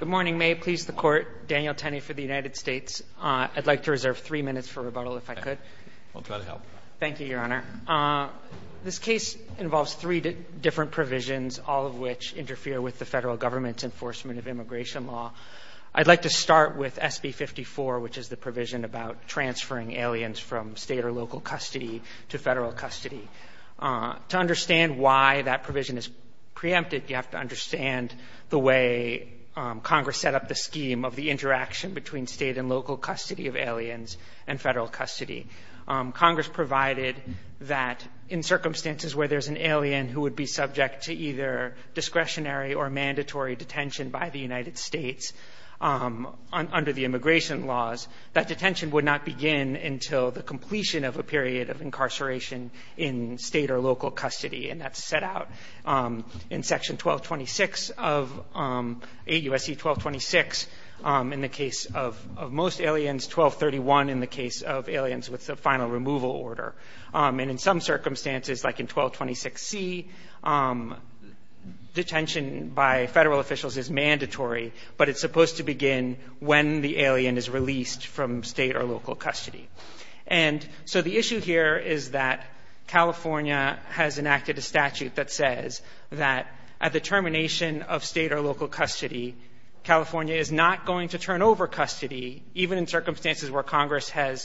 Good morning. May it please the court, Daniel Tenney for the United States. I'd like to reserve three minutes for rebuttal if I could. I'll try to help. Thank you, Your Honor. This case involves three different provisions, all of which interfere with the federal government's enforcement of immigration law. I'd like to start with SB 54, which is the provision about transferring aliens from state or local custody to federal custody. To understand why that provision is preempted, you have to understand the way Congress set up the scheme of the interaction between state and local custody of aliens and federal custody. Congress provided that in circumstances where there's an alien who would be subject to either discretionary or mandatory detention by the United States under the immigration laws, that detention would not begin until the completion of a period of incarceration in state or local custody. And that's set out in Section 1226 of 8 U.S.C. 1226 in the case of most aliens, 1231 in the case of aliens with a final removal order. And in some circumstances, like in 1226C, detention by federal officials is mandatory, but it's supposed to begin when the alien is released from state or local custody. And so the issue here is that California has enacted a statute that says that at the termination of state or local custody, California is not going to turn over custody, even in circumstances where Congress has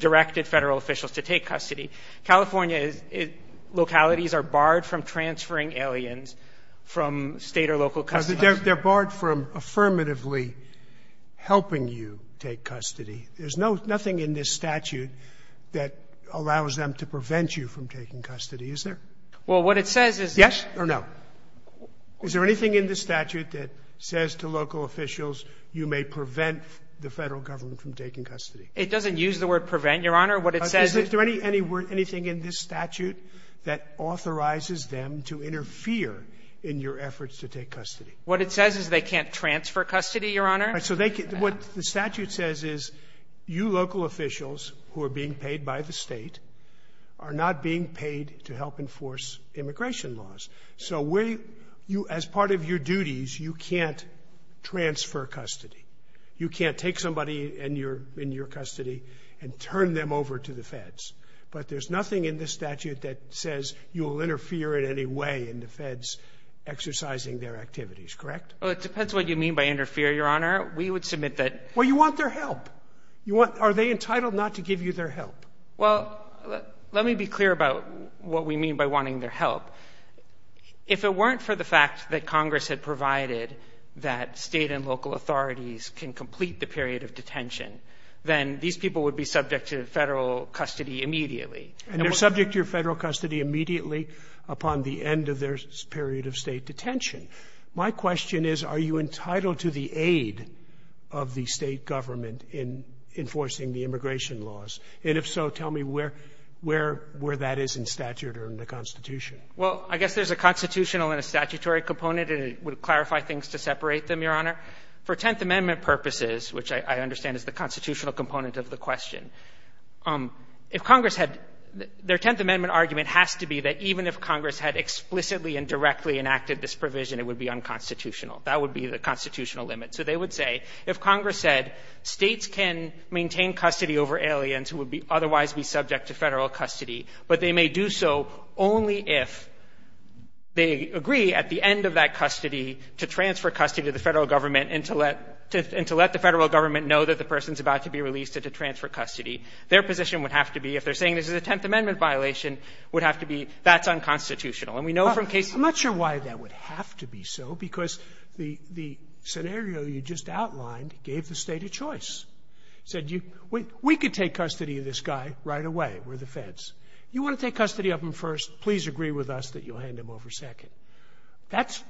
directed federal officials to take custody. California's localities are barred from transferring aliens from state or local custody. Sotomayor, they're barred from affirmatively helping you take custody. There's nothing in this statute that allows them to prevent you from taking custody, is there? Well, what it says is that yes or no. Is there anything in the statute that says to local officials you may prevent the Federal Government from taking custody? It doesn't use the word prevent, Your Honor. What it says is — Is there any word, anything in this statute that authorizes them to interfere in your efforts to take custody? What it says is they can't transfer custody, Your Honor. So they can't. What the statute says is you local officials who are being paid by the State are not being paid to help enforce immigration laws. So as part of your duties, you can't transfer custody. You can't take somebody in your custody and turn them over to the feds. But there's nothing in this statute that says you will interfere in any way in the feds exercising their activities, correct? Well, it depends what you mean by interfere, Your Honor. We would submit that — Well, you want their help. Are they entitled not to give you their help? Well, let me be clear about what we mean by wanting their help. If it weren't for the fact that Congress had provided that State and local authorities can complete the period of detention, then these people would be subject to Federal custody immediately. And they're subject to your Federal custody immediately upon the end of their period of State detention. My question is, are you entitled to the aid of the State Government in enforcing the immigration laws? And if so, tell me where that is in statute or in the Constitution. Well, I guess there's a constitutional and a statutory component, and it would clarify things to separate them, Your Honor. For Tenth Amendment purposes, which I understand is the constitutional component of the question, if Congress had — their Tenth Amendment argument has to be that even if Congress had explicitly and directly enacted this provision, it would be unconstitutional. That would be the constitutional limit. So they would say, if Congress said States can maintain custody over aliens who would otherwise be subject to Federal custody, but they may do so only if they agree at the end of that custody to transfer custody to the Federal Government and to let the Federal Government know that the person is about to be released and to transfer custody, their position would have to be, if they're saying this is a Tenth Amendment violation, would have to be, that's unconstitutional. And we know from cases — I'm not sure why that would have to be so, because the scenario you just outlined gave the State a choice, said you — we could take custody of this guy right away. We're the Feds. You want to take custody of him first, please agree with us that you'll hand him over second. That's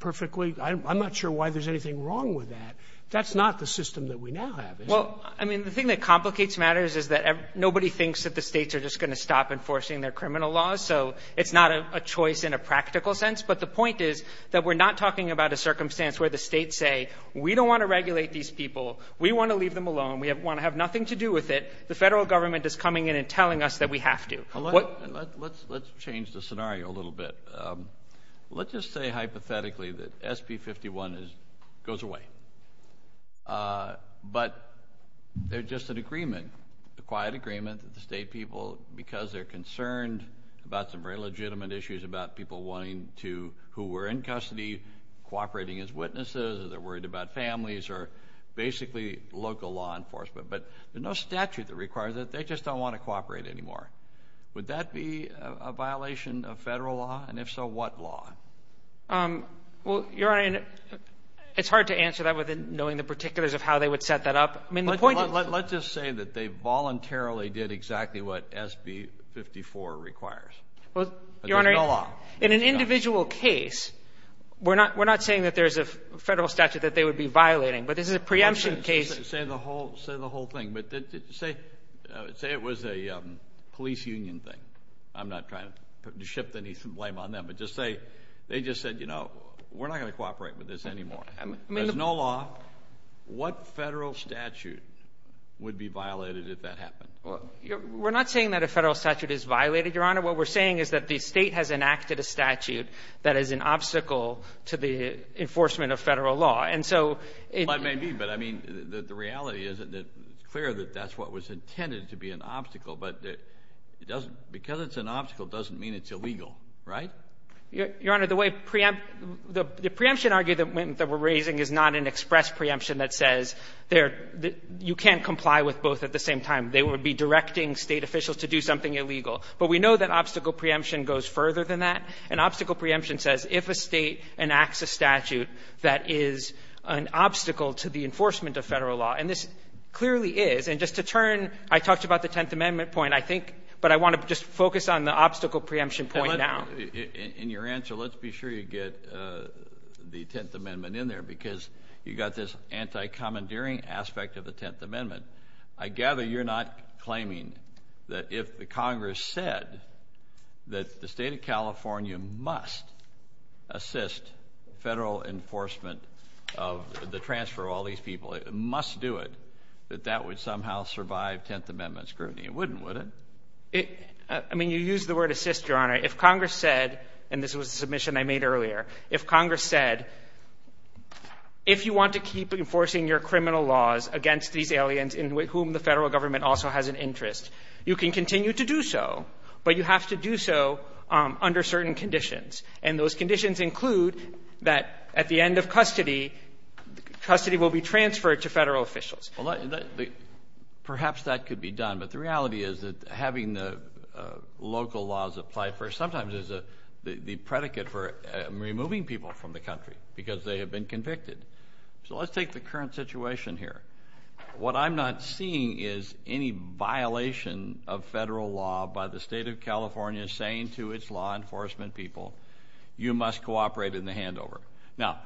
perfectly — I'm not sure why there's anything wrong with that. That's not the system that we now have, is it? Well, I mean, the thing that complicates matters is that nobody thinks that the States are just going to stop enforcing their criminal laws, so it's not a choice in a practical sense. But the point is that we're not talking about a circumstance where the States say, we don't want to regulate these people, we want to leave them alone, we want to have nothing to do with it, the Federal Government is coming in and telling us that we have to. Let's change the scenario a little bit. Let's just say hypothetically that SB 51 goes away. But they're just an agreement, a quiet agreement that the State people, because they're concerned about some very legitimate issues about people wanting to — who were in custody cooperating as witnesses, or they're worried about families, or basically local law enforcement. But there's no statute that requires that. They just don't want to cooperate anymore. Would that be a violation of Federal law? And if so, what law? Well, Your Honor, it's hard to answer that without knowing the particulars of how they would set that up. I mean, the point is — Let's just say that they voluntarily did exactly what SB 54 requires. Well, Your Honor — But there's no law. In an individual case, we're not saying that there's a Federal statute that they would be violating, but this is a preemption case — Say the whole thing. But say it was a police union thing. I'm not trying to shift any blame on them. But just say they just said, you know, we're not going to cooperate with this anymore. I mean — There's no law. What Federal statute would be violated if that happened? Well, we're not saying that a Federal statute is violated, Your Honor. What we're saying is that the State has enacted a statute that is an obstacle to the enforcement of Federal law. And so it — Well, it may be, but I mean, the reality is that it's clear that that's what was intended to be an obstacle, but it doesn't — because it's an obstacle doesn't mean it's illegal, right? Your Honor, the way preempt — the preemption argument that we're raising is not an express preemption that says there — you can't comply with both at the same time. They would be directing State officials to do something illegal. But we know that obstacle preemption goes further than that. And obstacle preemption says if a State enacts a statute that is an obstacle to the enforcement of Federal law — and this clearly is. And just to turn — I talked about the Tenth Amendment point, I think, but I want to just focus on the obstacle preemption point now. In your answer, let's be sure you get the Tenth Amendment in there, because you've got this anti-commandeering aspect of the Tenth Amendment. I gather you're not claiming that if the Congress said that the State of California must assist Federal enforcement of the transfer of all these people, it must do it, that that would somehow survive Tenth Amendment scrutiny. It wouldn't, would it? It — I mean, you use the word assist, Your Honor. If Congress said — and this was a If you want to keep enforcing your criminal laws against these aliens in whom the Federal government also has an interest, you can continue to do so, but you have to do so under certain conditions. And those conditions include that at the end of custody, custody will be transferred to Federal officials. Perhaps that could be done. But the reality is that having the local laws apply for — sometimes there's the predicate for removing people from the country because they have been convicted. So let's take the current situation here. What I'm not seeing is any violation of Federal law by the State of California saying to its law enforcement people, you must cooperate in the handover. Now,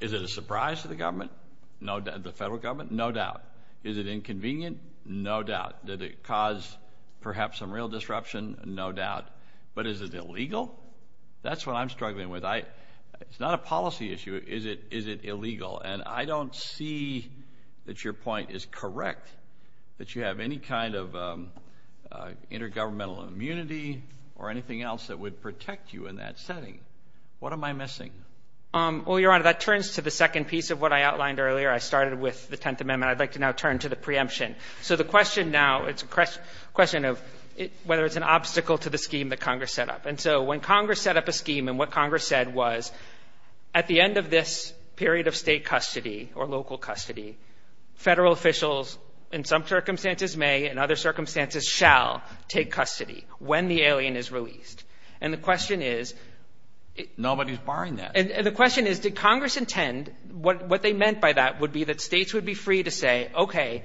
is it a surprise to the government, the Federal government? No doubt. Is it inconvenient? No doubt. Did it cause perhaps some real disruption? No doubt. But is it illegal? That's what I'm struggling with. It's not a policy issue. Is it illegal? And I don't see that your point is correct, that you have any kind of intergovernmental immunity or anything else that would protect you in that setting. What am I missing? Well, Your Honor, that turns to the second piece of what I outlined earlier. I started with the Tenth Amendment. I'd like to now turn to the preemption. So the question now, it's a question of whether it's an obstacle to the scheme that Congress set up. And so when Congress set up a scheme and what Congress said was, at the end of this period of State custody or local custody, Federal officials, in some circumstances may, in other circumstances shall, take custody when the alien is released. And the question is — Nobody's barring that. And the question is, did Congress intend — what they meant by that would be that States would be free to say, okay,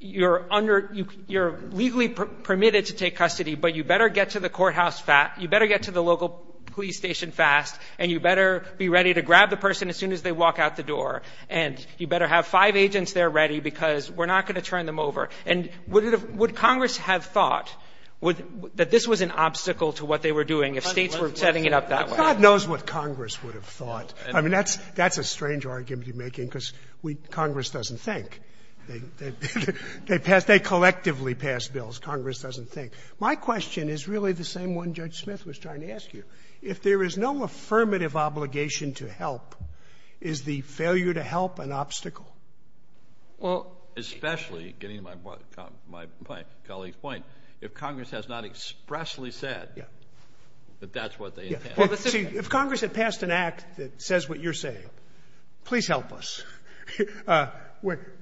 you're under — you're legally permitted to take custody, but you better get to the courthouse fast — you better get to the local police station fast, and you better be ready to grab the person as soon as they walk out the door, and you better have five agents there ready because we're not going to turn them over. And would it have — would Congress have thought that this was an obstacle to what they were doing if States were setting it up that way? God knows what Congress would have thought. I mean, that's — that's a strange argument you're making because we — Congress doesn't think. They pass — they collectively pass bills. Congress doesn't think. My question is really the same one Judge Smith was trying to ask you. If there is no affirmative obligation to help, is the failure to help an obstacle? Well, especially, getting to my colleague's point, if Congress has not expressly said that that's what they intend. See, if Congress had passed an act that says what you're saying, please help us. When —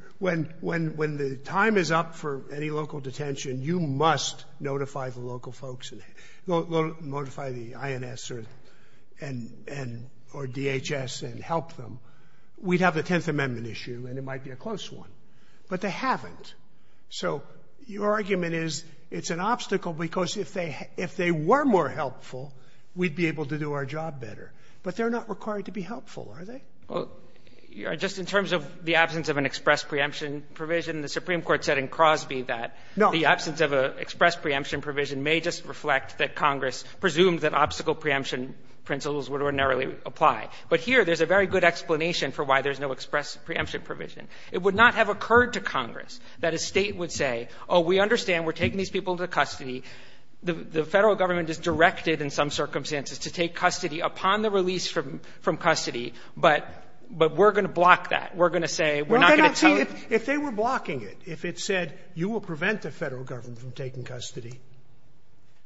when — when the time is up for any local detention, you must notify the local folks and notify the INS or — and — or DHS and help them. We'd have a Tenth Amendment issue, and it might be a close one. But they haven't. So your argument is it's an obstacle because if they — if they were more helpful, we'd be able to do our job better. But they're not required to be helpful, are they? Well, just in terms of the absence of an express preemption provision, the Supreme Court said in Crosby that the absence of an express preemption provision may just reflect that Congress presumed that obstacle preemption principles would ordinarily apply. But here, there's a very good explanation for why there's no express preemption provision. It would not have occurred to Congress that a State would say, oh, we understand we're taking these people into custody. The Federal government is directed in some circumstances to take custody upon the release from — from custody, but — but we're going to block that. We're going to say we're not going to tell you — Well, they're not — see, if they were blocking it, if it said you will prevent the Federal government from taking custody,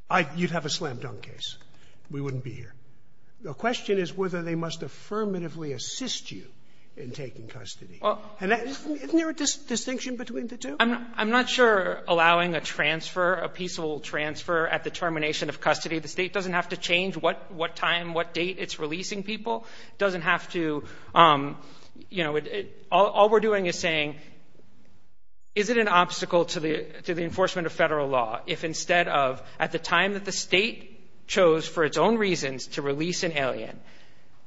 I — you'd have a slam-dunk case. We wouldn't be here. The question is whether they must affirmatively assist you in taking custody. Isn't there a distinction between the two? I'm — I'm not sure allowing a transfer, a peaceable transfer at the termination of custody, the State doesn't have to change what — what time, what date it's releasing people, doesn't have to, you know — all we're doing is saying, is it an obstacle to the — to the enforcement of Federal law if instead of, at the time that the State chose for its own reasons to release an alien,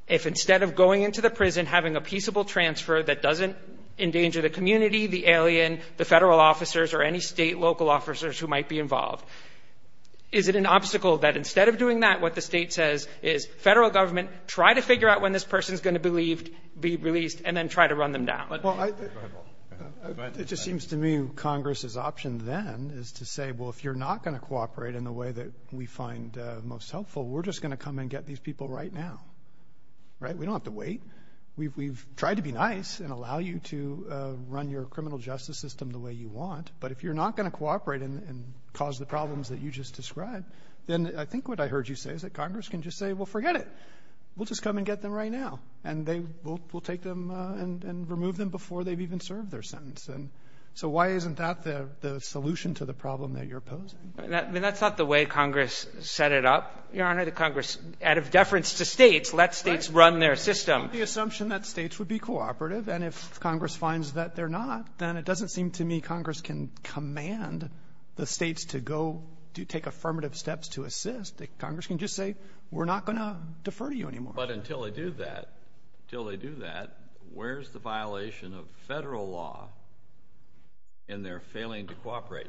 if instead of going into the prison, having a peaceable transfer that doesn't endanger the community, the alien, the Federal officers, or any State local officers who might be involved, is it an obstacle that instead of doing that, what the State says is, Federal government, try to figure out when this person's going to be released and then try to run them down? Well, I — It just seems to me Congress's option then is to say, well, if you're not going to cooperate in the way that we find most helpful, we're just going to come and get these people right now, right? We don't have to wait. We've tried to be nice and allow you to run your criminal justice system the way you want, but if you're not going to cooperate and cause the problems that you just described, then I think what I heard you say is that Congress can just say, well, forget it. We'll just come and get them right now, and they — we'll take them and remove them before they've even served their sentence. And so why isn't that the solution to the problem that you're posing? I mean, that's not the way Congress set it up, Your Honor. The Congress, out of deference to states, let states run their system. It's not the assumption that states would be cooperative. And if Congress finds that they're not, then it doesn't seem to me Congress can command the states to go — to take affirmative steps to assist. Congress can just say, we're not going to defer to you anymore. But until they do that — until they do that, where's the violation of federal law in their failing to cooperate?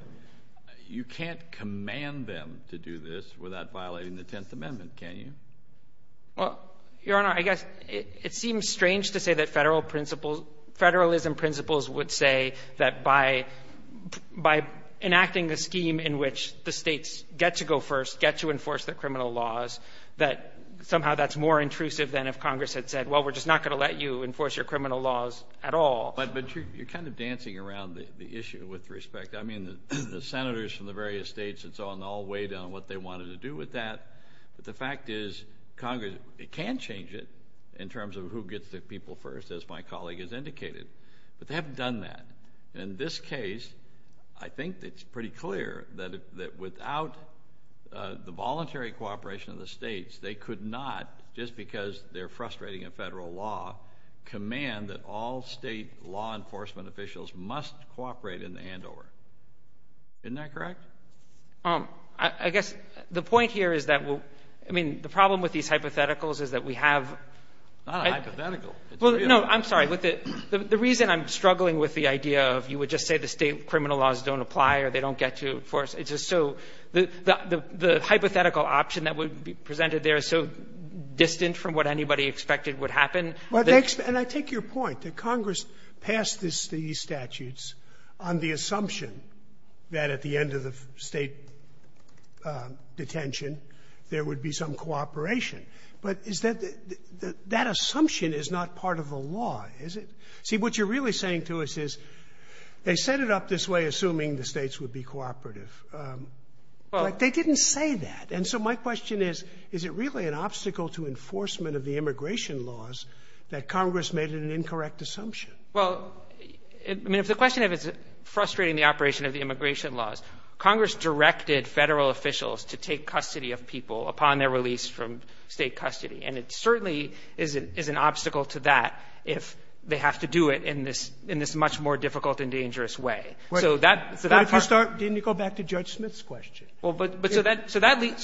You can't command them to do this without violating the Tenth Amendment, can you? Well, Your Honor, I guess it seems strange to say that federal principles — federalism principles would say that by — by enacting a scheme in which the states get to go first, get to enforce the criminal laws, that somehow that's more intrusive than if Congress had said, well, we're just not going to let you enforce your criminal laws at all. But you're kind of dancing around the issue with respect. I mean, the senators from the various states and so on, they all weighed in on what they wanted to do with that. But the fact is Congress — it can change it in terms of who gets to people first, as my colleague has indicated. But they haven't done that. In this case, I think it's pretty clear that without the voluntary cooperation of the states, they could not, just because they're frustrating a federal law, command that all Isn't that correct? I guess the point here is that we'll — I mean, the problem with these hypotheticals is that we have — It's not a hypothetical. Well, no. I'm sorry. The reason I'm struggling with the idea of you would just say the state criminal laws don't apply or they don't get to enforce, it's just so — the hypothetical option that would be presented there is so distant from what anybody expected would happen that — And I take your point, that Congress passed these statutes on the assumption that at the end of the state detention, there would be some cooperation. But is that — that assumption is not part of the law, is it? See, what you're really saying to us is they set it up this way assuming the states would be cooperative. Well — But they didn't say that. And so my question is, is it really an obstacle to enforcement of the immigration laws that Congress made an incorrect assumption? Well, I mean, if the question of it's frustrating the operation of the immigration laws, Congress directed Federal officials to take custody of people upon their release from State custody. And it certainly is an obstacle to that if they have to do it in this — in this much more difficult and dangerous way. So that — Why don't you start — didn't you go back to Judge Smith's question? Well, but — but so that — so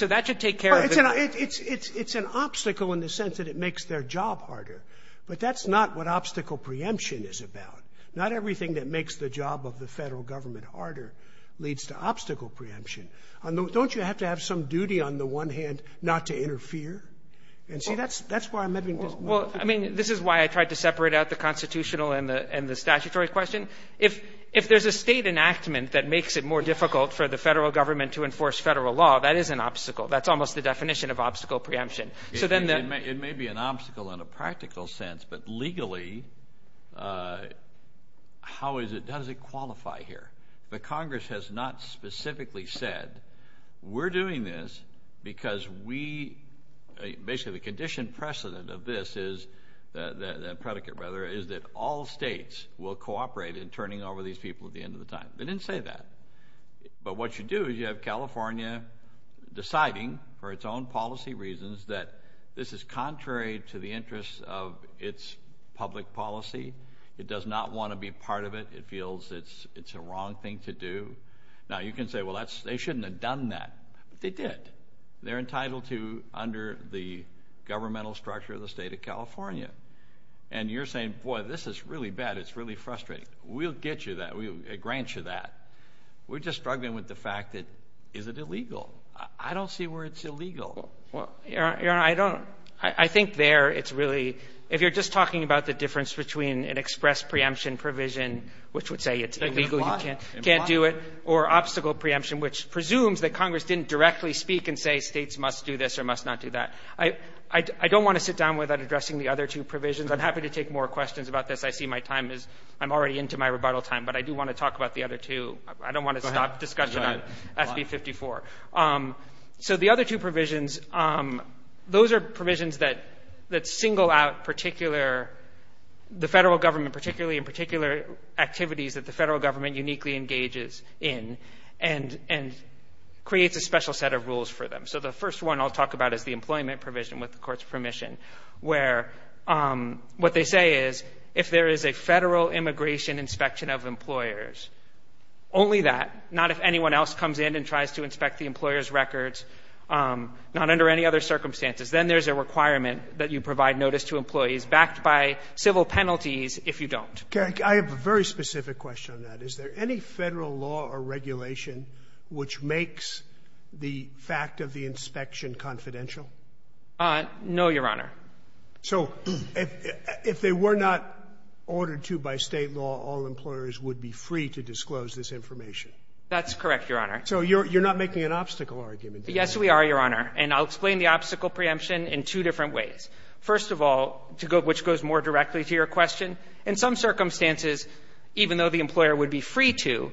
that should take care of the — It's an — it's an obstacle in the sense that it makes their job harder. But that's not what obstacle preemption is about. Not everything that makes the job of the Federal government harder leads to obstacle preemption. Don't you have to have some duty on the one hand not to interfere? And see, that's — that's why I'm having — Well, I mean, this is why I tried to separate out the constitutional and the — and the statutory question. If — if there's a State enactment that makes it more difficult for the Federal government to enforce Federal law, that is an obstacle. That's almost the definition of obstacle preemption. So then the — It may be an obstacle in a practical sense, but legally, how is it — how does it qualify here? The Congress has not specifically said, we're doing this because we — basically, the condition precedent of this is — the predicate, rather, is that all States will cooperate in turning over these people at the end of the time. They didn't say that. But what you do is you have California deciding, for its own policy reasons, that this is contrary to the interests of its public policy. It does not want to be part of it. It feels it's a wrong thing to do. Now, you can say, well, that's — they shouldn't have done that. But they did. They're entitled to, under the governmental structure of the State of California. And you're saying, boy, this is really bad. It's really frustrating. We'll get you that. We'll grant you that. We're just struggling with the fact that — is it illegal? I don't see where it's illegal. Well, Your Honor, I don't — I think there it's really — if you're just talking about the difference between an express preemption provision, which would say it's illegal, you can't do it, or obstacle preemption, which presumes that Congress didn't directly speak and say States must do this or must not do that, I don't want to sit down without addressing the other two provisions. I'm happy to take more questions about this. I see my time is — I'm already into my rebuttal time. But I do want to talk about the other two. I don't want to stop discussion on SB-54. So the other two provisions, those are provisions that single out particular — the federal government, particularly in particular activities that the federal government uniquely engages in and creates a special set of rules for them. So the first one I'll talk about is the employment provision, with the Court's permission, where what they say is if there is a federal immigration inspection of records, not under any other circumstances, then there's a requirement that you provide notice to employees backed by civil penalties if you don't. Sotomayor, I have a very specific question on that. Is there any federal law or regulation which makes the fact of the inspection confidential? No, Your Honor. So if they were not ordered to by State law, all employers would be free to disclose this information? That's correct, Your Honor. So you're not making an obstacle argument? Yes, we are, Your Honor. And I'll explain the obstacle preemption in two different ways. First of all, to go — which goes more directly to your question, in some circumstances, even though the employer would be free to,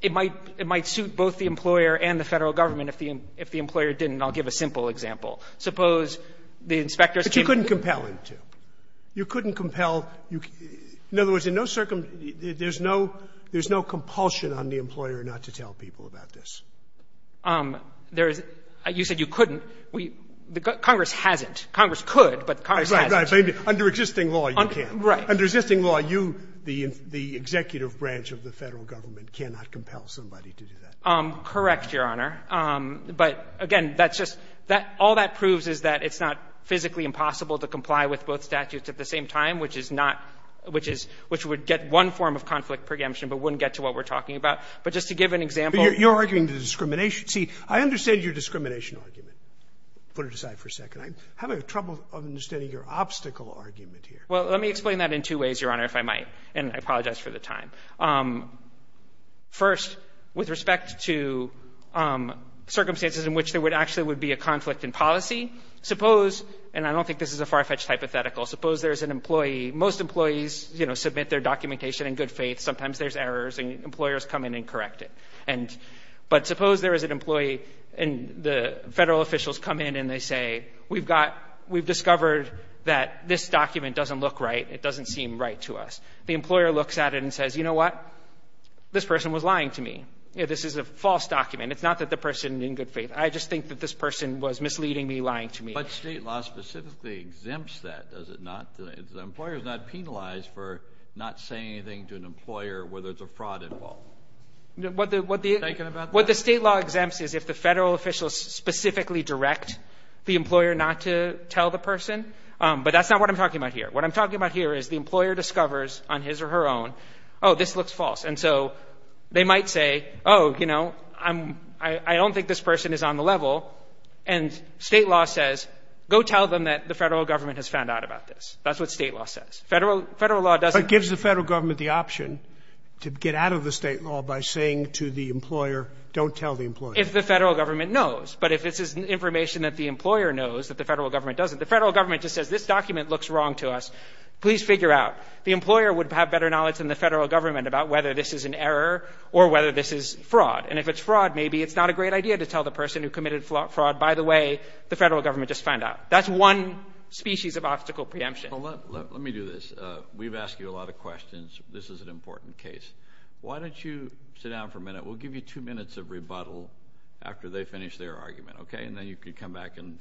it might — it might suit both the employer and the federal government if the employer didn't. I'll give a simple example. Suppose the inspector's team — But you couldn't compel him to. You couldn't compel — in other words, in no — there's no compulsion on the employer not to tell people about this. There is — you said you couldn't. We — Congress hasn't. Congress could, but Congress hasn't. Right, right. Under existing law, you can't. Right. Under existing law, you, the executive branch of the federal government, cannot compel somebody to do that. Correct, Your Honor. But, again, that's just — all that proves is that it's not physically impossible to comply with both statutes at the same time, which is not — which is — which would get one form of conflict preemption but wouldn't get to what we're talking about. But just to give an example — But you're arguing the discrimination. See, I understand your discrimination argument. Put it aside for a second. I'm having trouble understanding your obstacle argument here. Well, let me explain that in two ways, Your Honor, if I might, and I apologize for the time. First, with respect to circumstances in which there would actually would be a conflict in policy, suppose — and I don't think this is a far-fetched hypothetical — suppose there's an employee. Most employees, you know, submit their documentation in good faith. Sometimes there's errors, and employers come in and correct it. And — but suppose there is an employee, and the federal officials come in, and they say, we've got — we've discovered that this document doesn't look right. It doesn't seem right to us. The employer looks at it and says, you know what? This person was lying to me. You know, this is a false document. It's not that the person in good faith — I just think that this person was misleading me, lying to me. But state law specifically exempts that, does it not? The employer is not penalized for not saying anything to an employer whether it's a fraud involved. What the state law exempts is if the federal officials specifically direct the employer not to tell the person. But that's not what I'm talking about here. What I'm talking about here is the employer discovers on his or her own, oh, this looks false. And so they might say, oh, you know, I don't think this person is on the level. And state law says, go tell them that the federal government has found out about this. That's what state law says. Federal law doesn't — But it gives the federal government the option to get out of the state law by saying to the employer, don't tell the employer. If the federal government knows. But if it's information that the employer knows that the federal government doesn't, the federal government just says, this document looks wrong to us. Please figure out. The employer would have better knowledge than the federal government about whether this is an error or whether this is fraud. And if it's fraud, maybe it's not a great idea to tell the person who committed fraud, by the way, the federal government just found out. That's one species of obstacle preemption. Let me do this. We've asked you a lot of questions. This is an important case. Why don't you sit down for a minute? We'll give you two minutes of rebuttal after they finish their argument, OK? And then you can come back and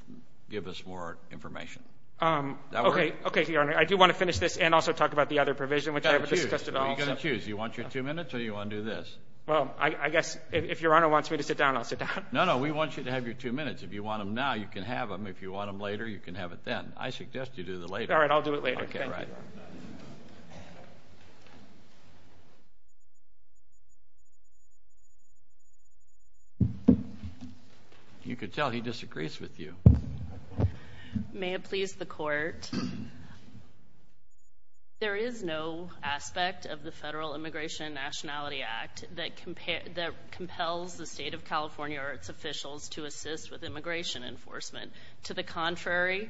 give us more information. OK. OK, Your Honor. I do want to finish this and also talk about the other provision, which I have discussed at all. You're going to choose. You want your two minutes or you want to do this? Well, I guess if Your Honor wants me to sit down, I'll sit down. No, no. We want you to have your two minutes. If you want them now, you can have them. If you want them later, you can have it then. I suggest you do the later. All right. I'll do it later. OK, all right. You could tell he disagrees with you. May it please the court, there is no aspect of the Federal Immigration and Nationality Act that compels the state of California or its officials to assist with immigration enforcement. To the contrary,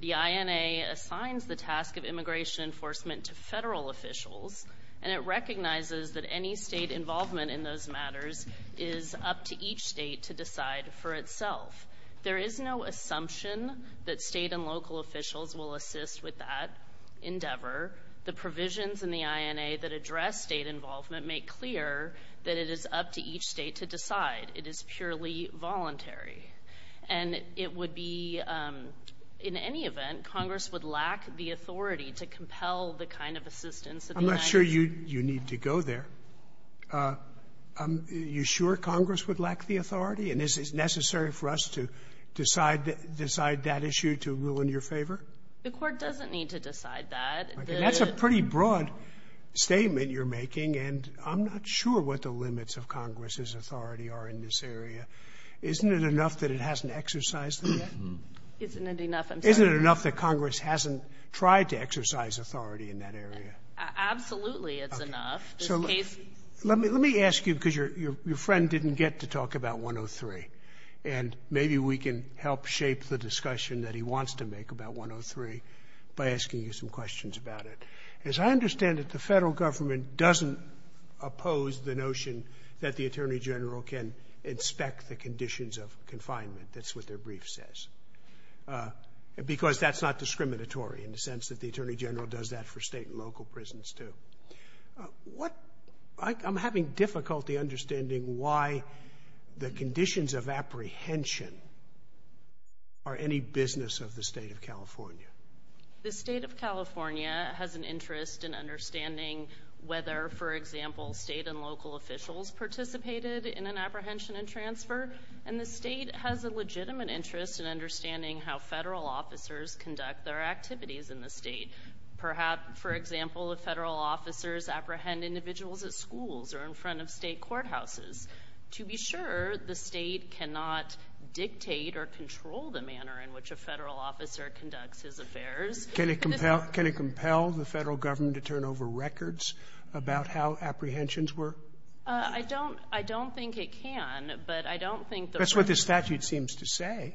the INA assigns the task of immigration enforcement to federal officials and it recognizes that any state involvement in those matters is up to each state to decide for itself. There is no assumption that state and local officials will assist with that endeavor. The provisions in the INA that address state involvement make clear that it is up to each state to decide. It is purely voluntary. And it would be, in any event, Congress would lack the authority to compel the kind of assistance that the United States needs. I'm not sure you need to go there. Are you sure Congress would lack the authority? And is it necessary for us to decide that issue to rule in your favor? The Court doesn't need to decide that. That's a pretty broad statement you're making, and I'm not sure what the limits of Congress's authority are in this area. Isn't it enough that it hasn't exercised them yet? Isn't it enough, I'm sorry? Isn't it enough that Congress hasn't tried to exercise authority in that area? Absolutely, it's enough. This case... Let me ask you, because your friend didn't get to talk about 103, and maybe we can help shape the discussion that he wants to make about 103 by asking you some questions about it. As I understand it, the federal government doesn't oppose the notion that the Attorney General can inspect the conditions of confinement. That's what their brief says, because that's not discriminatory in the sense that the Attorney General does that for state and local prisons, too. I'm having difficulty understanding why the conditions of apprehension are any business of the state of California. The state of California has an interest in understanding whether, for example, state and local officials participated in an apprehension and transfer, and the state has a legitimate interest in understanding how federal officers conduct their activities in the state. Perhaps, for example, if federal officers apprehend individuals at schools or in front of state courthouses. To be sure, the state cannot dictate or control the manner in which a federal officer conducts his affairs. Can it compel the federal government to turn over records about how apprehensions were? I don't think it can, but I don't think that... That's what the statute seems to say.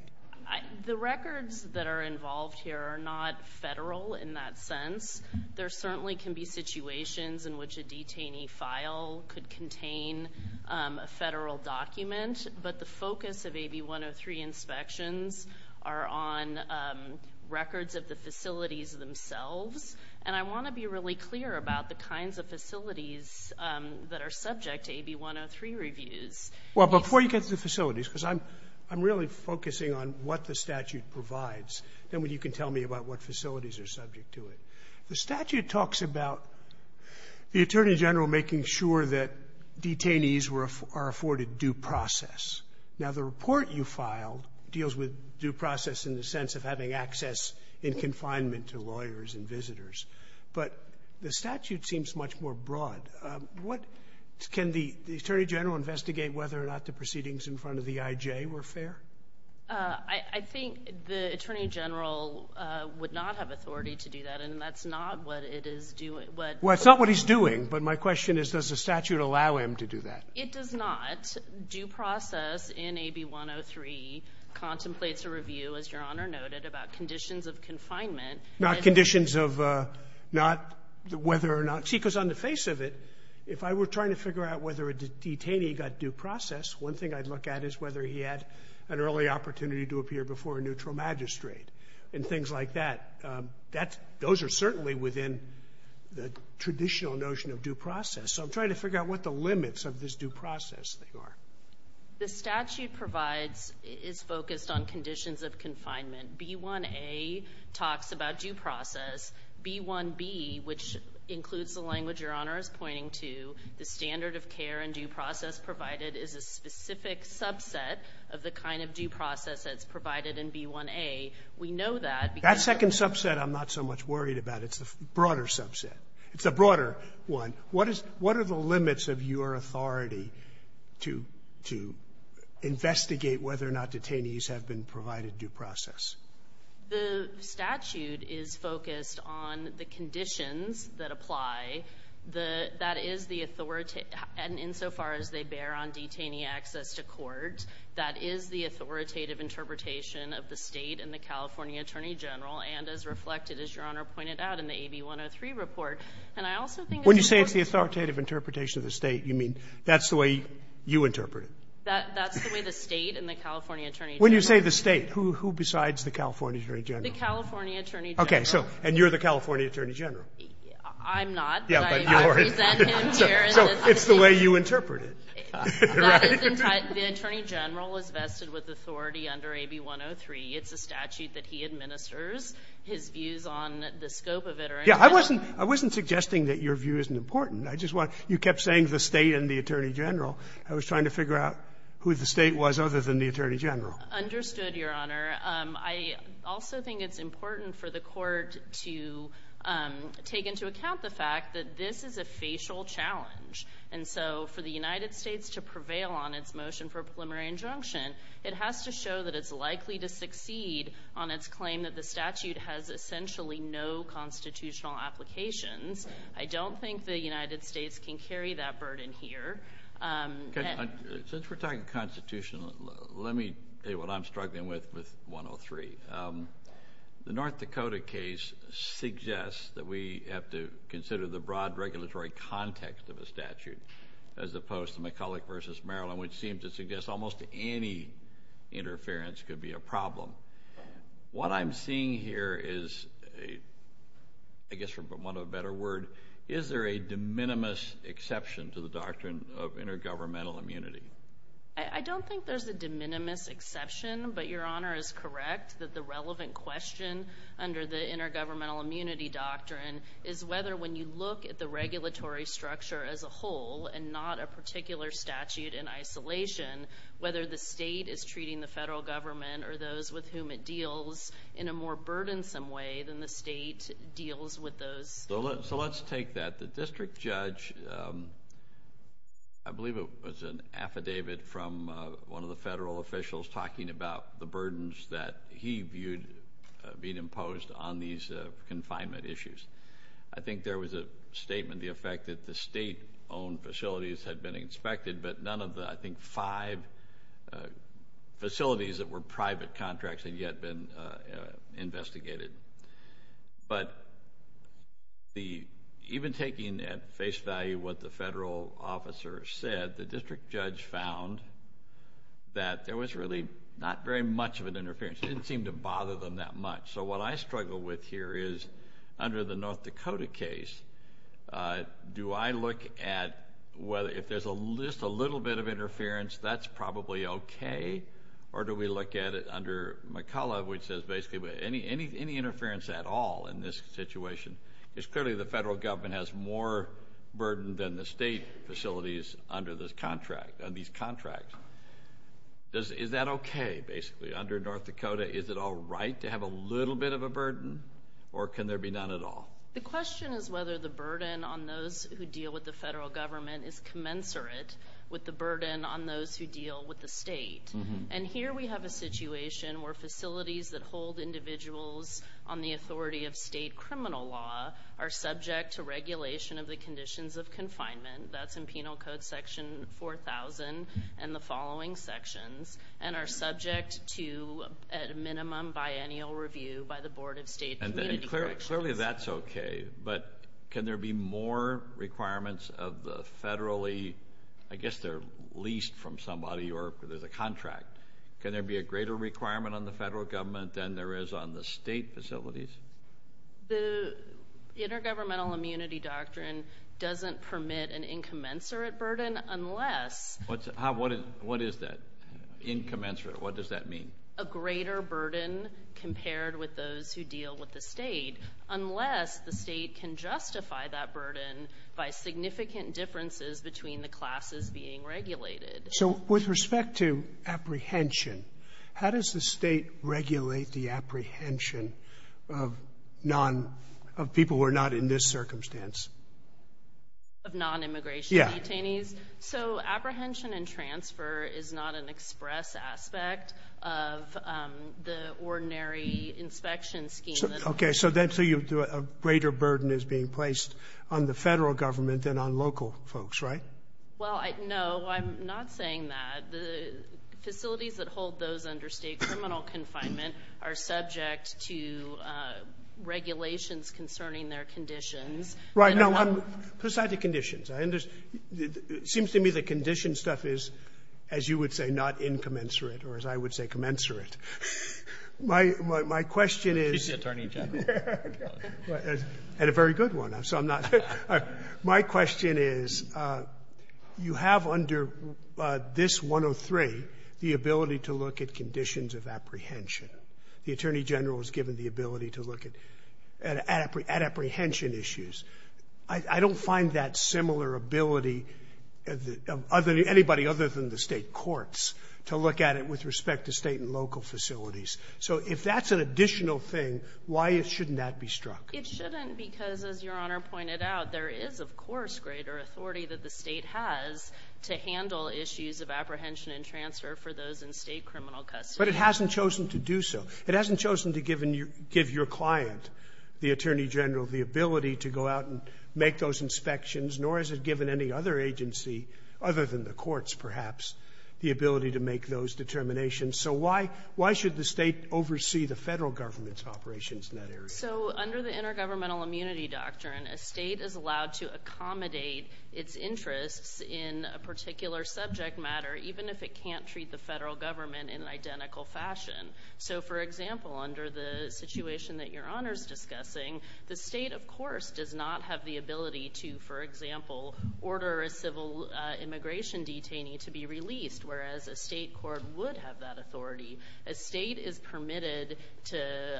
The records that are involved here are not federal in that sense. There certainly can be situations in which a detainee file could contain a federal document, but the focus of AB 103 inspections are on records of the facilities themselves. And I want to be really clear about the kinds of facilities that are subject to AB 103 reviews. Well, before you get to the facilities, because I'm really focusing on what the statute provides, then you can tell me about what facilities are subject to it. The statute talks about the attorney general making sure that detainees are afforded due process. Now, the report you filed deals with due process in the sense of having access in confinement to lawyers and visitors, but the statute seems much more broad. What... Can the attorney general investigate whether or not the proceedings in front of the IJ were fair? I think the attorney general would not have authority to do that, and that's not what it is doing. Well, it's not what he's doing, but my question is does the statute allow him to do that? It does not. Due process in AB 103 contemplates a review, as Your Honor noted, about conditions of confinement. Not conditions of... Not whether or not... See, because on the face of it, if I were trying to figure out whether a detainee got due process, one thing I'd look at is whether he had an early opportunity to appear before a neutral magistrate and things like that. That's... Those are certainly within the traditional notion of due process. So I'm trying to figure out what the limits of this due process thing are. The statute provides... Is focused on conditions of confinement. B1A talks about due process. B1B, which includes the language Your Honor is pointing to, the standard of care and due process provided is a specific subset of the kind of due process that's provided in B1A. We know that because... That second subset I'm not so much worried about. It's the broader subset. It's the broader one. What is... What are the limits of your authority to investigate whether or not detainees have been provided due process? The statute is focused on the conditions that apply. The... That is the authority... And insofar as they bear on detainee access to court, that is the authoritative interpretation of the state and the California Attorney General. And as reflected, as Your Honor pointed out in the AB 103 report, and I also think... When you say it's the authoritative interpretation of the state, you mean that's the way you interpret it? That's the way the state and the California Attorney General... When you say the state, who besides the California Attorney General? The California Attorney General. Okay. So, and you're the California Attorney General? I'm not. Yeah, but you're... I represent him here in this... So, it's the way you interpret it, right? The Attorney General is vested with authority under AB 103. It's a statute that he administers. His views on the scope of it are... Yeah, I wasn't suggesting that your view isn't important. I just want... You kept saying the state and the Attorney General. I was trying to figure out who the state was other than the Attorney General. Understood, Your Honor. I also think it's important for the court to take into account the fact that this is a facial challenge. And so, for the United States to prevail on its motion for a preliminary injunction, it has to show that it's likely to succeed on its claim that the statute has essentially no constitutional applications. I don't think the United States can carry that burden here. Since we're talking constitutional, let me say what I'm struggling with with 103. The North Dakota case suggests that we have to consider the broad regulatory context of a statute, as opposed to McCulloch v. Maryland, which seems to suggest almost any interference could be a problem. What I'm seeing here is a, I guess for want of a better word, is there a de minimis exception to the doctrine of intergovernmental immunity? I don't think there's a de minimis exception, but Your Honor is correct that the relevant question under the intergovernmental immunity doctrine is whether when you look at the regulatory structure as a whole, and not a particular statute in isolation, whether the state is treating the federal government or those with whom it deals in a more burdensome way than the state deals with those. So let's take that. The district judge, I believe it was an affidavit from one of the federal officials talking about the burdens that he viewed being imposed on these confinement issues. I think there was a statement, the effect that the state owned facilities had been inspected, but none of the, I think, five facilities that were private contracts had yet been investigated. But even taking at face value what the federal officer said, the district judge found that there was really not very much of an interference. It didn't seem to bother them that much. So what I struggle with here is, under the North Dakota case, do I look at whether, if there's just a little bit of interference, that's probably okay, or do we look at it under McCullough, which says basically any interference at all in this situation, because clearly the federal government has more burden than the state facilities under these contracts. Is that okay, basically? Under North Dakota, is it all right to have a little bit of a burden, or can there be none at all? The question is whether the burden on those who deal with the federal government is commensurate with the burden on those who deal with the state. And here we have a situation where facilities that hold individuals on the authority of state criminal law are subject to regulation of the conditions of confinement. That's in Penal Code section 4000 and the following sections, and are But can there be more requirements of the federally, I guess they're leased from somebody, or there's a contract. Can there be a greater requirement on the federal government than there is on the state facilities? The Intergovernmental Immunity Doctrine doesn't permit an incommensurate burden unless... What is that, incommensurate? What does that mean? A greater burden compared with those who deal with the state, unless the state can justify that burden by significant differences between the classes being regulated. So with respect to apprehension, how does the state regulate the apprehension of people who are not in this circumstance? Of non-immigration detainees? So apprehension and transfer is not an express aspect of the scheme. Okay. So then a greater burden is being placed on the federal government than on local folks, right? Well, no, I'm not saying that. The facilities that hold those under state criminal confinement are subject to regulations concerning their conditions. Right. No, besides the conditions. It seems to me the condition stuff is, as you would say, not incommensurate, or as I would say, commensurate. My question is... She's the Attorney General. And a very good one, so I'm not... My question is, you have under this 103 the ability to look at conditions of apprehension. The Attorney General is given the ability to look at apprehension issues. I don't find that similar ability of anybody other than the state courts look at it with respect to state and local facilities. So if that's an additional thing, why shouldn't that be struck? It shouldn't because, as Your Honor pointed out, there is, of course, greater authority that the state has to handle issues of apprehension and transfer for those in state criminal custody. But it hasn't chosen to do so. It hasn't chosen to give your client, the Attorney General, the ability to go out and make those inspections, nor has it given any other agency, other than the courts, perhaps, the ability to make those determinations. So why should the state oversee the federal government's operations in that area? So under the Intergovernmental Immunity Doctrine, a state is allowed to accommodate its interests in a particular subject matter, even if it can't treat the federal government in an identical fashion. So, for example, under the situation that Your Honor's discussing, the state, of course, does not have the ability to, for example, order a civil immigration detainee to be released, whereas a state court would have that authority. A state is permitted to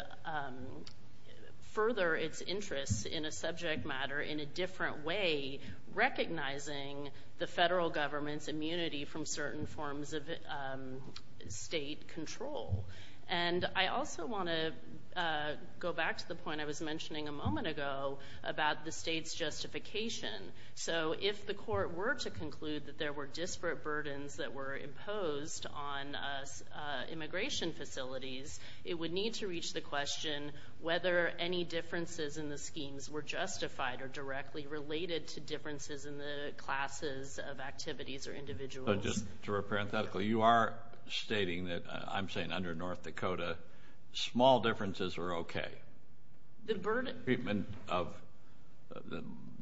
further its interests in a subject matter in a different way, recognizing the federal government's immunity from certain forms of state control. And I also want to go back to the point I was mentioning a moment ago about the state's justification. So if the court were to conclude that there were disparate burdens that were imposed on immigration facilities, it would need to reach the question whether any differences in the schemes were justified or directly related to differences in the classes of activities or individuals. So just to paraphrase, you are stating that, I'm saying under North Dakota, small differences are okay. Treatment of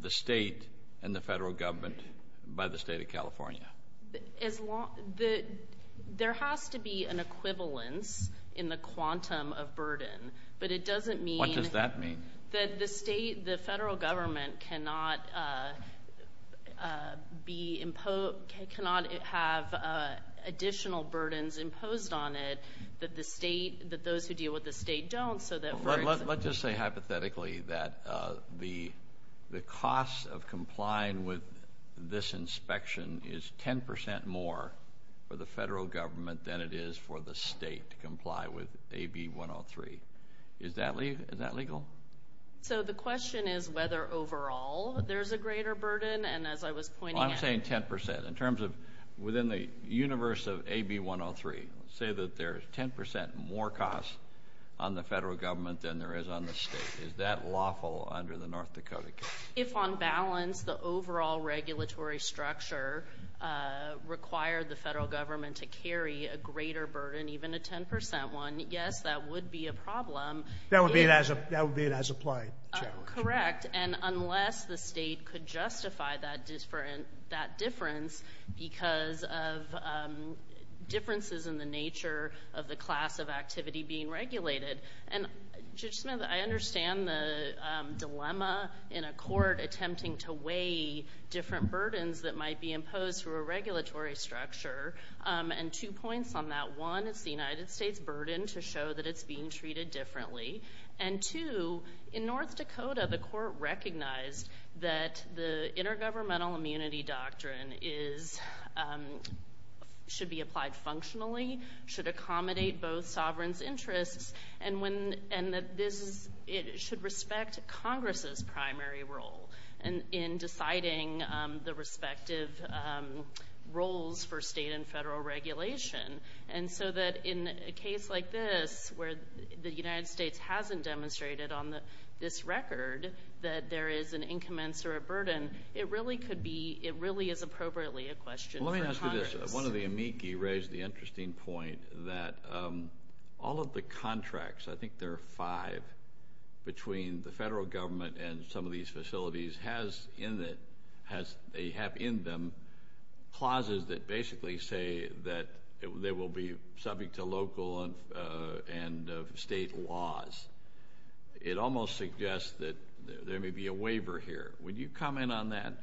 the state and the federal government by the state of California. There has to be an equivalence in the quantum of burden, but it doesn't mean... What does that mean? That the state, the federal government cannot have additional burdens imposed on it that the state, that those who deal with the state don't, so that... Let's just say hypothetically that the cost of complying with this inspection is 10% more for the federal government than it is for the state to comply with AB 103. Is that legal? So the question is whether overall there's a greater burden, and as I was pointing out... I'm saying 10%. In terms of within the universe of AB 103, say that there's 10% more costs on the federal government than there is on the state. Is that lawful under the North Dakota case? If on balance, the overall regulatory structure required the federal government to carry a greater burden, even a 10% one, yes, that would be a problem. That would be an as-applied challenge. Correct. And unless the state could justify that difference because of differences in the nature of the class of activity being regulated. And Judge Smith, I understand the dilemma in a court attempting to weigh different burdens that might be imposed through a regulatory structure. And two points on that. One, it's the United States' burden to show that it's being treated differently. And two, in North Dakota, the court recognized that the intergovernmental immunity doctrine should be applied functionally, should accommodate both sovereigns' interests, and that this should respect Congress's primary role in deciding the respective roles for state and federal regulation. And so that in a case like this, where the United States hasn't demonstrated on this record that there is an incommensurate burden, it really could be, it really is appropriately a question for Congress. Let me ask you this. One of the amici raised the interesting point that all of the contracts, I think there are five, between the federal government and some of these facilities, have in them clauses that basically say that they will be subject to local and state laws. It almost suggests that there may be a waiver here. Would you comment on that?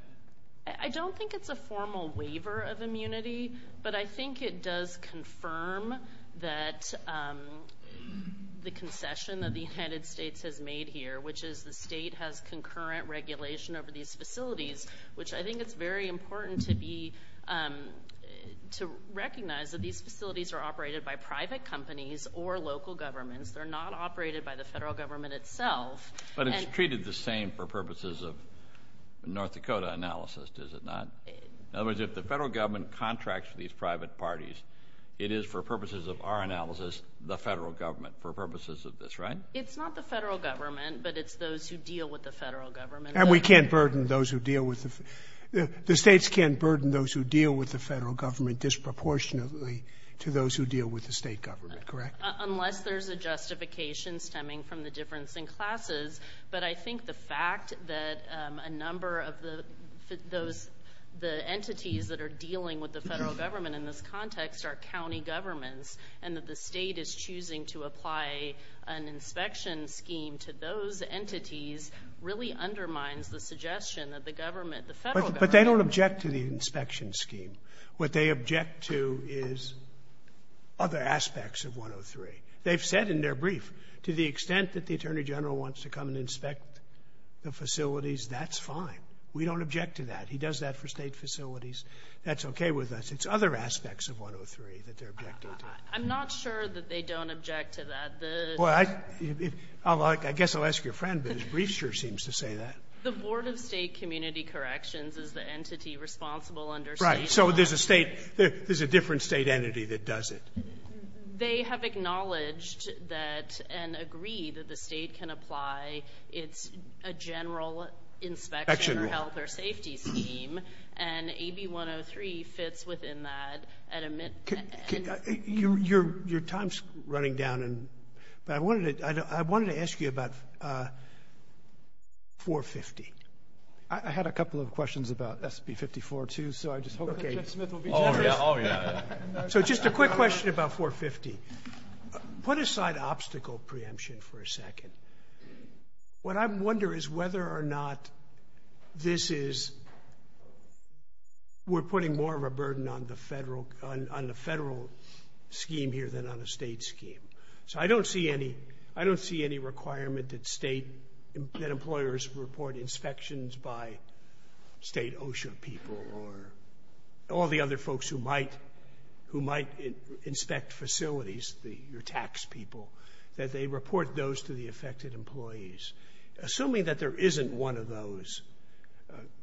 I don't think it's a formal waiver of immunity, but I think it does confirm that the concession that the United States has made here, which is the state has concurrent regulation over these facilities, which I think it's very important to be, to recognize that these facilities are operated by private companies or local governments. They're not operated by the federal government itself. But it's treated the same for purposes of North Dakota analysis, is it not? In other words, if the federal government contracts with these private parties, it is for purposes of our analysis, the federal government, for purposes of this, right? It's not the federal government, but it's those who deal with the federal government. And we can't burden those who deal with the, the states can't burden those who deal with the federal government disproportionately to those who deal with the state government, correct? Unless there's a justification stemming from the difference in classes, but I think the fact that a number of those, the entities that are dealing with the federal government in this context are county governments and that the state is choosing to apply an inspection scheme to those entities really undermines the suggestion that the government, the federal government... But they don't object to the inspection scheme. What they object to is other aspects of 103. They've said in their brief, to the extent that the attorney general wants to come and inspect the facilities, that's fine. We don't object to that. He does that for state facilities. That's okay with us. It's other aspects of 103 that they're objecting to. I'm not sure that they don't object to that. Well, I guess I'll ask your friend, but his brief sure seems to say that. The board of state community corrections is the entity responsible under state law. Right. So there's a state, there's a different state entity that does it. They have acknowledged that and agree that the state can apply it's a general inspection or health or safety scheme, and AB 103 fits within that. Your time's running down, but I wanted to ask you about 450. I had a couple of questions about SB54 too, so I just hope that Jeff Smith will be generous. So just a quick question about 450. Put aside obstacle preemption for a second. What I wonder is whether or not this is, we're putting more of a burden on the federal scheme here than on a state scheme. So I don't see any requirement that employers report inspections by state OSHA people or all the other folks who might inspect facilities, your tax people, that they report those to the affected employees. Assuming that there isn't one of those,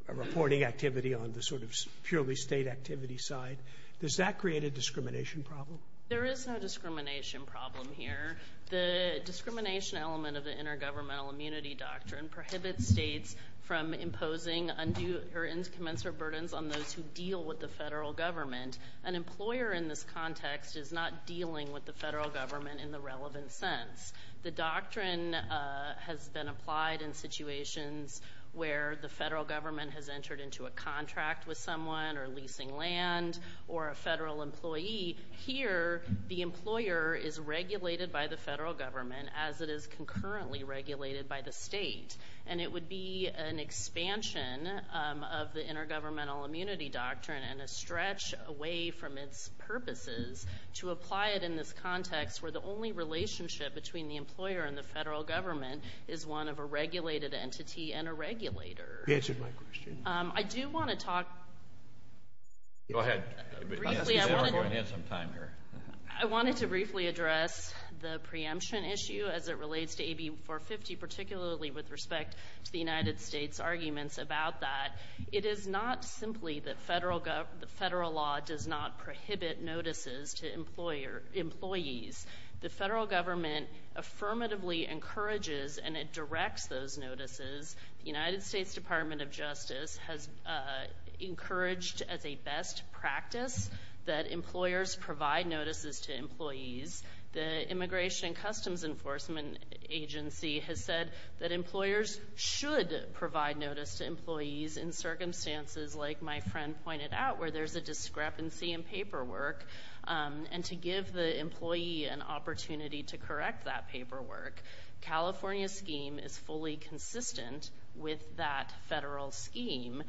a reporting activity on the sort of purely state activity side, does that create a discrimination problem? There is no discrimination problem here. The discrimination element of the intergovernmental immunity doctrine prohibits states from imposing undue or incommensurate burdens on those who deal with the federal government. An employer in this context is not dealing with the federal government in the relevant sense. The doctrine has been applied in situations where the federal government has entered into a contract with someone or leasing land or a federal employee. Here, the employer is regulated by the expansion of the intergovernmental immunity doctrine and a stretch away from its purposes to apply it in this context where the only relationship between the employer and the federal government is one of a regulated entity and a regulator. You answered my question. I wanted to briefly address the preemption issue as it relates to AB 450, particularly with respect to the United States arguments about that. It is not simply that federal law does not prohibit notices to employees. The federal government affirmatively encourages and it directs those notices. The United States Department of Justice has encouraged as a best practice that employers provide notices to employees. The Immigration and Customs Enforcement Agency has said that employers should provide notice to employees in circumstances like my friend pointed out where there is a discrepancy in paperwork. To give the employee an opportunity to correct that paperwork, California's scheme is fully consistent with that federal scheme.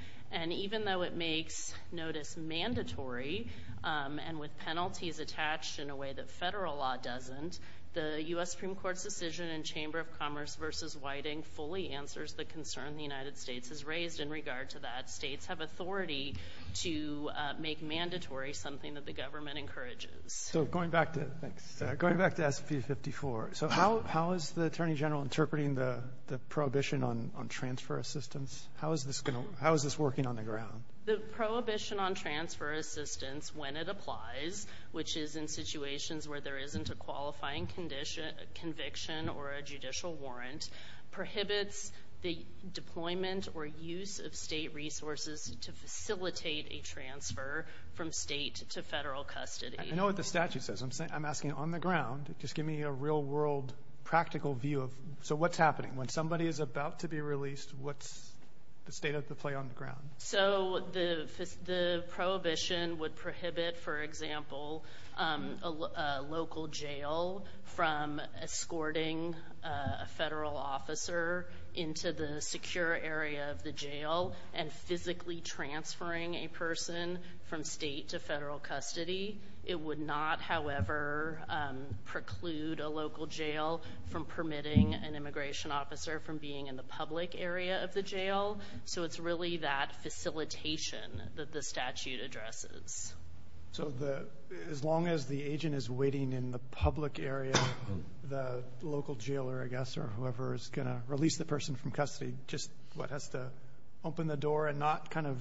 Even though it makes notice mandatory and with penalties attached in a way that federal law doesn't, the U.S. Supreme Court's decision in Chamber of Commerce v. Whiting fully answers the concern the United States has raised in regard to that. States have authority to make mandatory something that the government encourages. Going back to SB 54, how is the Attorney General interpreting the prohibition on transfer assistance? How is this working on the ground? The prohibition on transfer assistance when it involves a qualifying conviction or a judicial warrant prohibits the deployment or use of state resources to facilitate a transfer from state to federal custody. I know what the statute says. I'm asking on the ground. Just give me a real world practical view. So what's happening? When somebody is about to be released, what's the state of the play on the ground? So the prohibition would prohibit, for example, a local jail from escorting a federal officer into the secure area of the jail and physically transferring a person from state to federal custody. It would not, however, preclude a local jail from permitting an immigration officer from being in the public area of the jail. So it's really that facilitation that the statute addresses. So as long as the agent is waiting in the public area, the local jailer, I guess, or whoever is going to release the person from custody just has to open the door and not kind of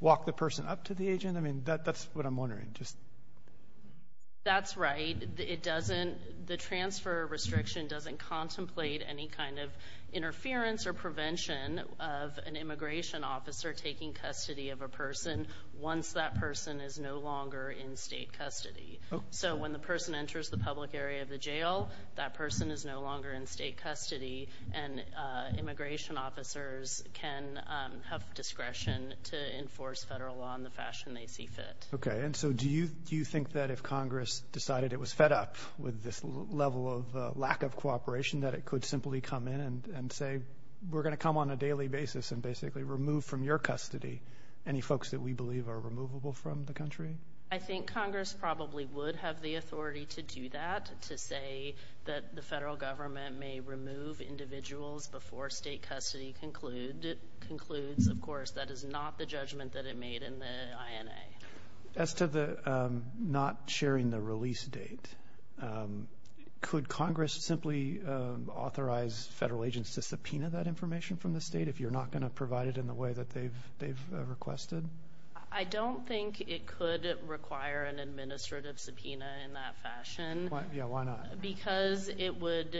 walk the person up to the agent? I mean, that's what I'm wondering. That's right. The transfer restriction doesn't contemplate any kind of interference or prevention of an immigration officer taking custody of a person once that person is no longer in state custody. So when the person enters the public area of the jail, that person is no longer in state custody and immigration officers can have discretion to enforce federal law in the fashion they see fit. Okay. And so do you think that if it could simply come in and say we're going to come on a daily basis and basically remove from your custody any folks that we believe are removable from the country? I think Congress probably would have the authority to do that, to say that the federal government may remove individuals before state custody concludes. Of course, that is not the judgment that it made in the INA. As to the not sharing the release date, could Congress simply authorize federal agents to subpoena that information from the state if you're not going to provide it in the way that they've requested? I don't think it could require an administrative subpoena in that fashion. Yeah, why not? Because it would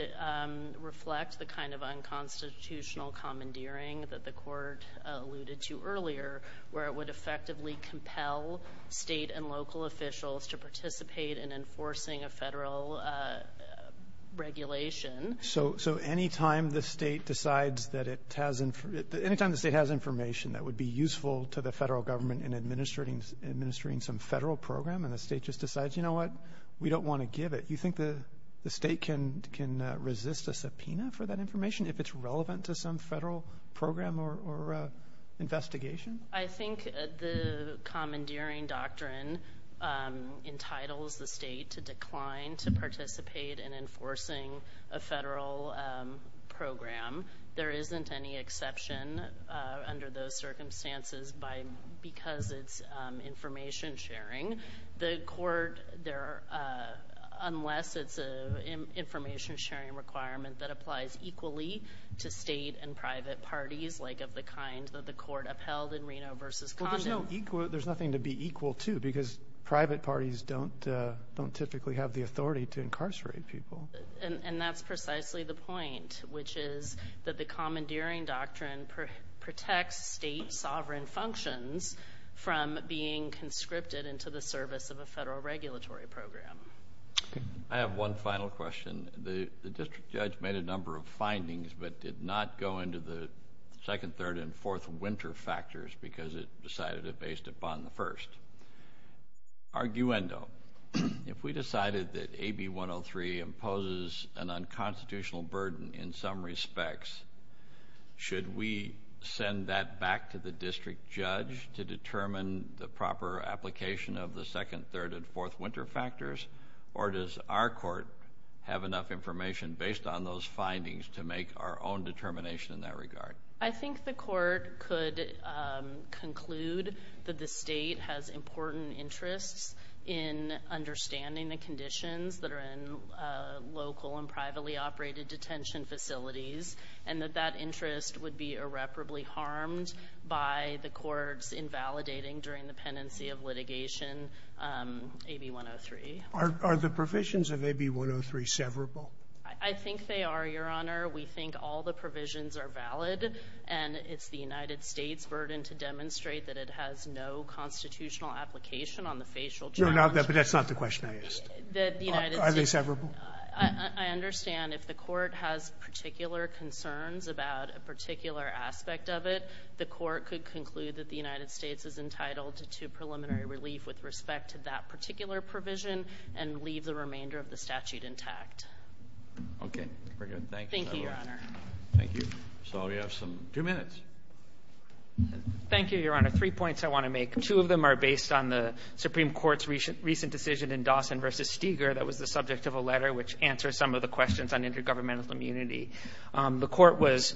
reflect the kind of unconstitutional commandeering that the court alluded to earlier, where it would effectively compel state and local officials to participate in enforcing a federal regulation. So anytime the state has information that would be useful to the federal government in administering some federal program and the state just decides, you know what, we don't want to give it, you think the state can resist a subpoena for that investigation? I think the commandeering doctrine entitles the state to decline to participate in enforcing a federal program. There isn't any exception under those circumstances because it's information sharing. The court, unless it's an information sharing requirement that applies equally to state and private parties, like of the kind that the court upheld in Reno versus Condon. There's nothing to be equal to because private parties don't typically have the authority to incarcerate people. And that's precisely the point, which is that the commandeering doctrine protects state sovereign functions from being conscripted into the service of a federal but did not go into the second, third, and fourth winter factors because it decided it based upon the first. Arguendo. If we decided that AB 103 imposes an unconstitutional burden in some respects, should we send that back to the district judge to determine the proper application of the second, third, and fourth winter factors? Or does our court have enough information based on those to make our own determination in that regard? I think the court could conclude that the state has important interests in understanding the conditions that are in local and privately operated detention facilities and that that interest would be irreparably harmed by the courts invalidating during the pendency of litigation AB 103. Are the provisions of AB 103 severable? I think they are, Your Honor. We think all the provisions are valid, and it's the United States' burden to demonstrate that it has no constitutional application on the facial charge. No, but that's not the question I asked. Are they severable? I understand if the court has particular concerns about a particular aspect of it, the court could conclude that the United States is entitled to preliminary relief with respect to that particular provision and leave the remainder of the statute intact. Okay, we're good. Thank you, Your Honor. Thank you. So we have some two minutes. Thank you, Your Honor. Three points I want to make. Two of them are based on the Supreme Court's recent decision in Dawson v. Steger that was the subject of a letter which answers some of the questions on intergovernmental immunity. The court was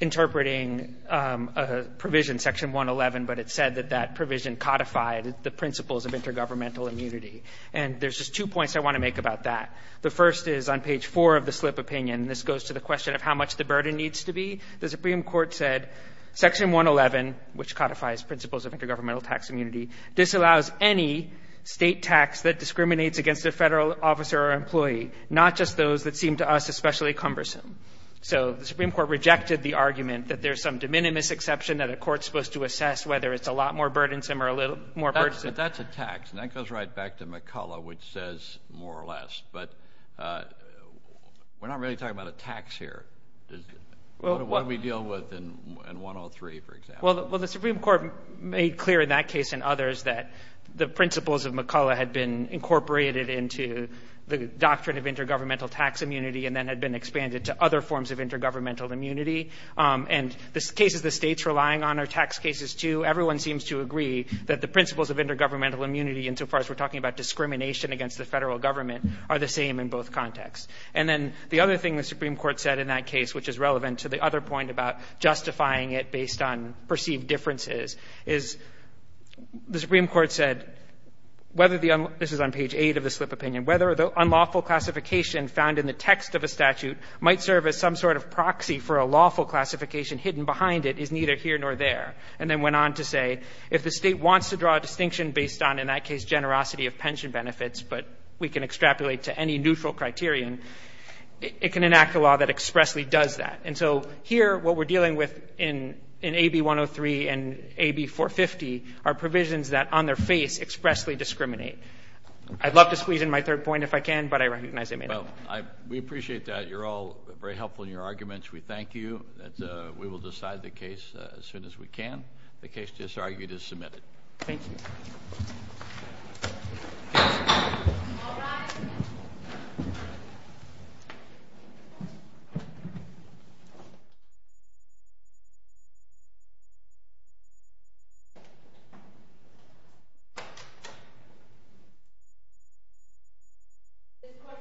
interpreting a provision, Section 111, but it said that that provision codified the principles of intergovernmental immunity. And there's just two points I want to make about that. The first is on page 4 of the slip opinion, and this goes to the question of how much the burden needs to be. The Supreme Court said, Section 111, which codifies principles of intergovernmental tax immunity, disallows any State tax that discriminates against a Federal officer or employee, not just those that seem to us especially cumbersome. So the Supreme Court rejected the argument that there's some de minimis exception that a court's supposed to assess whether it's a lot more burdensome or a little more burdensome. That's a tax, and that goes right back to McCullough, which says more or less. But we're not really talking about a tax here. What do we deal with in 103, for example? Well, the Supreme Court made clear in that case and others that the principles of McCullough had been incorporated into the doctrine of intergovernmental tax immunity and then had expanded to other forms of intergovernmental immunity. And the cases the State's relying on are tax cases, too. Everyone seems to agree that the principles of intergovernmental immunity, insofar as we're talking about discrimination against the Federal government, are the same in both contexts. And then the other thing the Supreme Court said in that case, which is relevant to the other point about justifying it based on perceived differences, is the Supreme Court said, whether the unlawful — this is on page 8 of the slip opinion — whether the unlawful classification found in the text of a statute might serve as some sort of proxy for a lawful classification hidden behind it is neither here nor there, and then went on to say, if the State wants to draw a distinction based on, in that case, generosity of pension benefits, but we can extrapolate to any neutral criterion, it can enact a law that expressly does that. And so here, what we're dealing with in — in AB 103 and AB 450 are provisions that, on their face, expressly discriminate. I'd love to squeeze in my third point, if I can, but I recognize I may not. Well, I — we appreciate that. You're all very helpful in your arguments. We thank you. We will decide the case as soon as we can. The case disargued is submitted. Thank you. This court for the session is adjourned.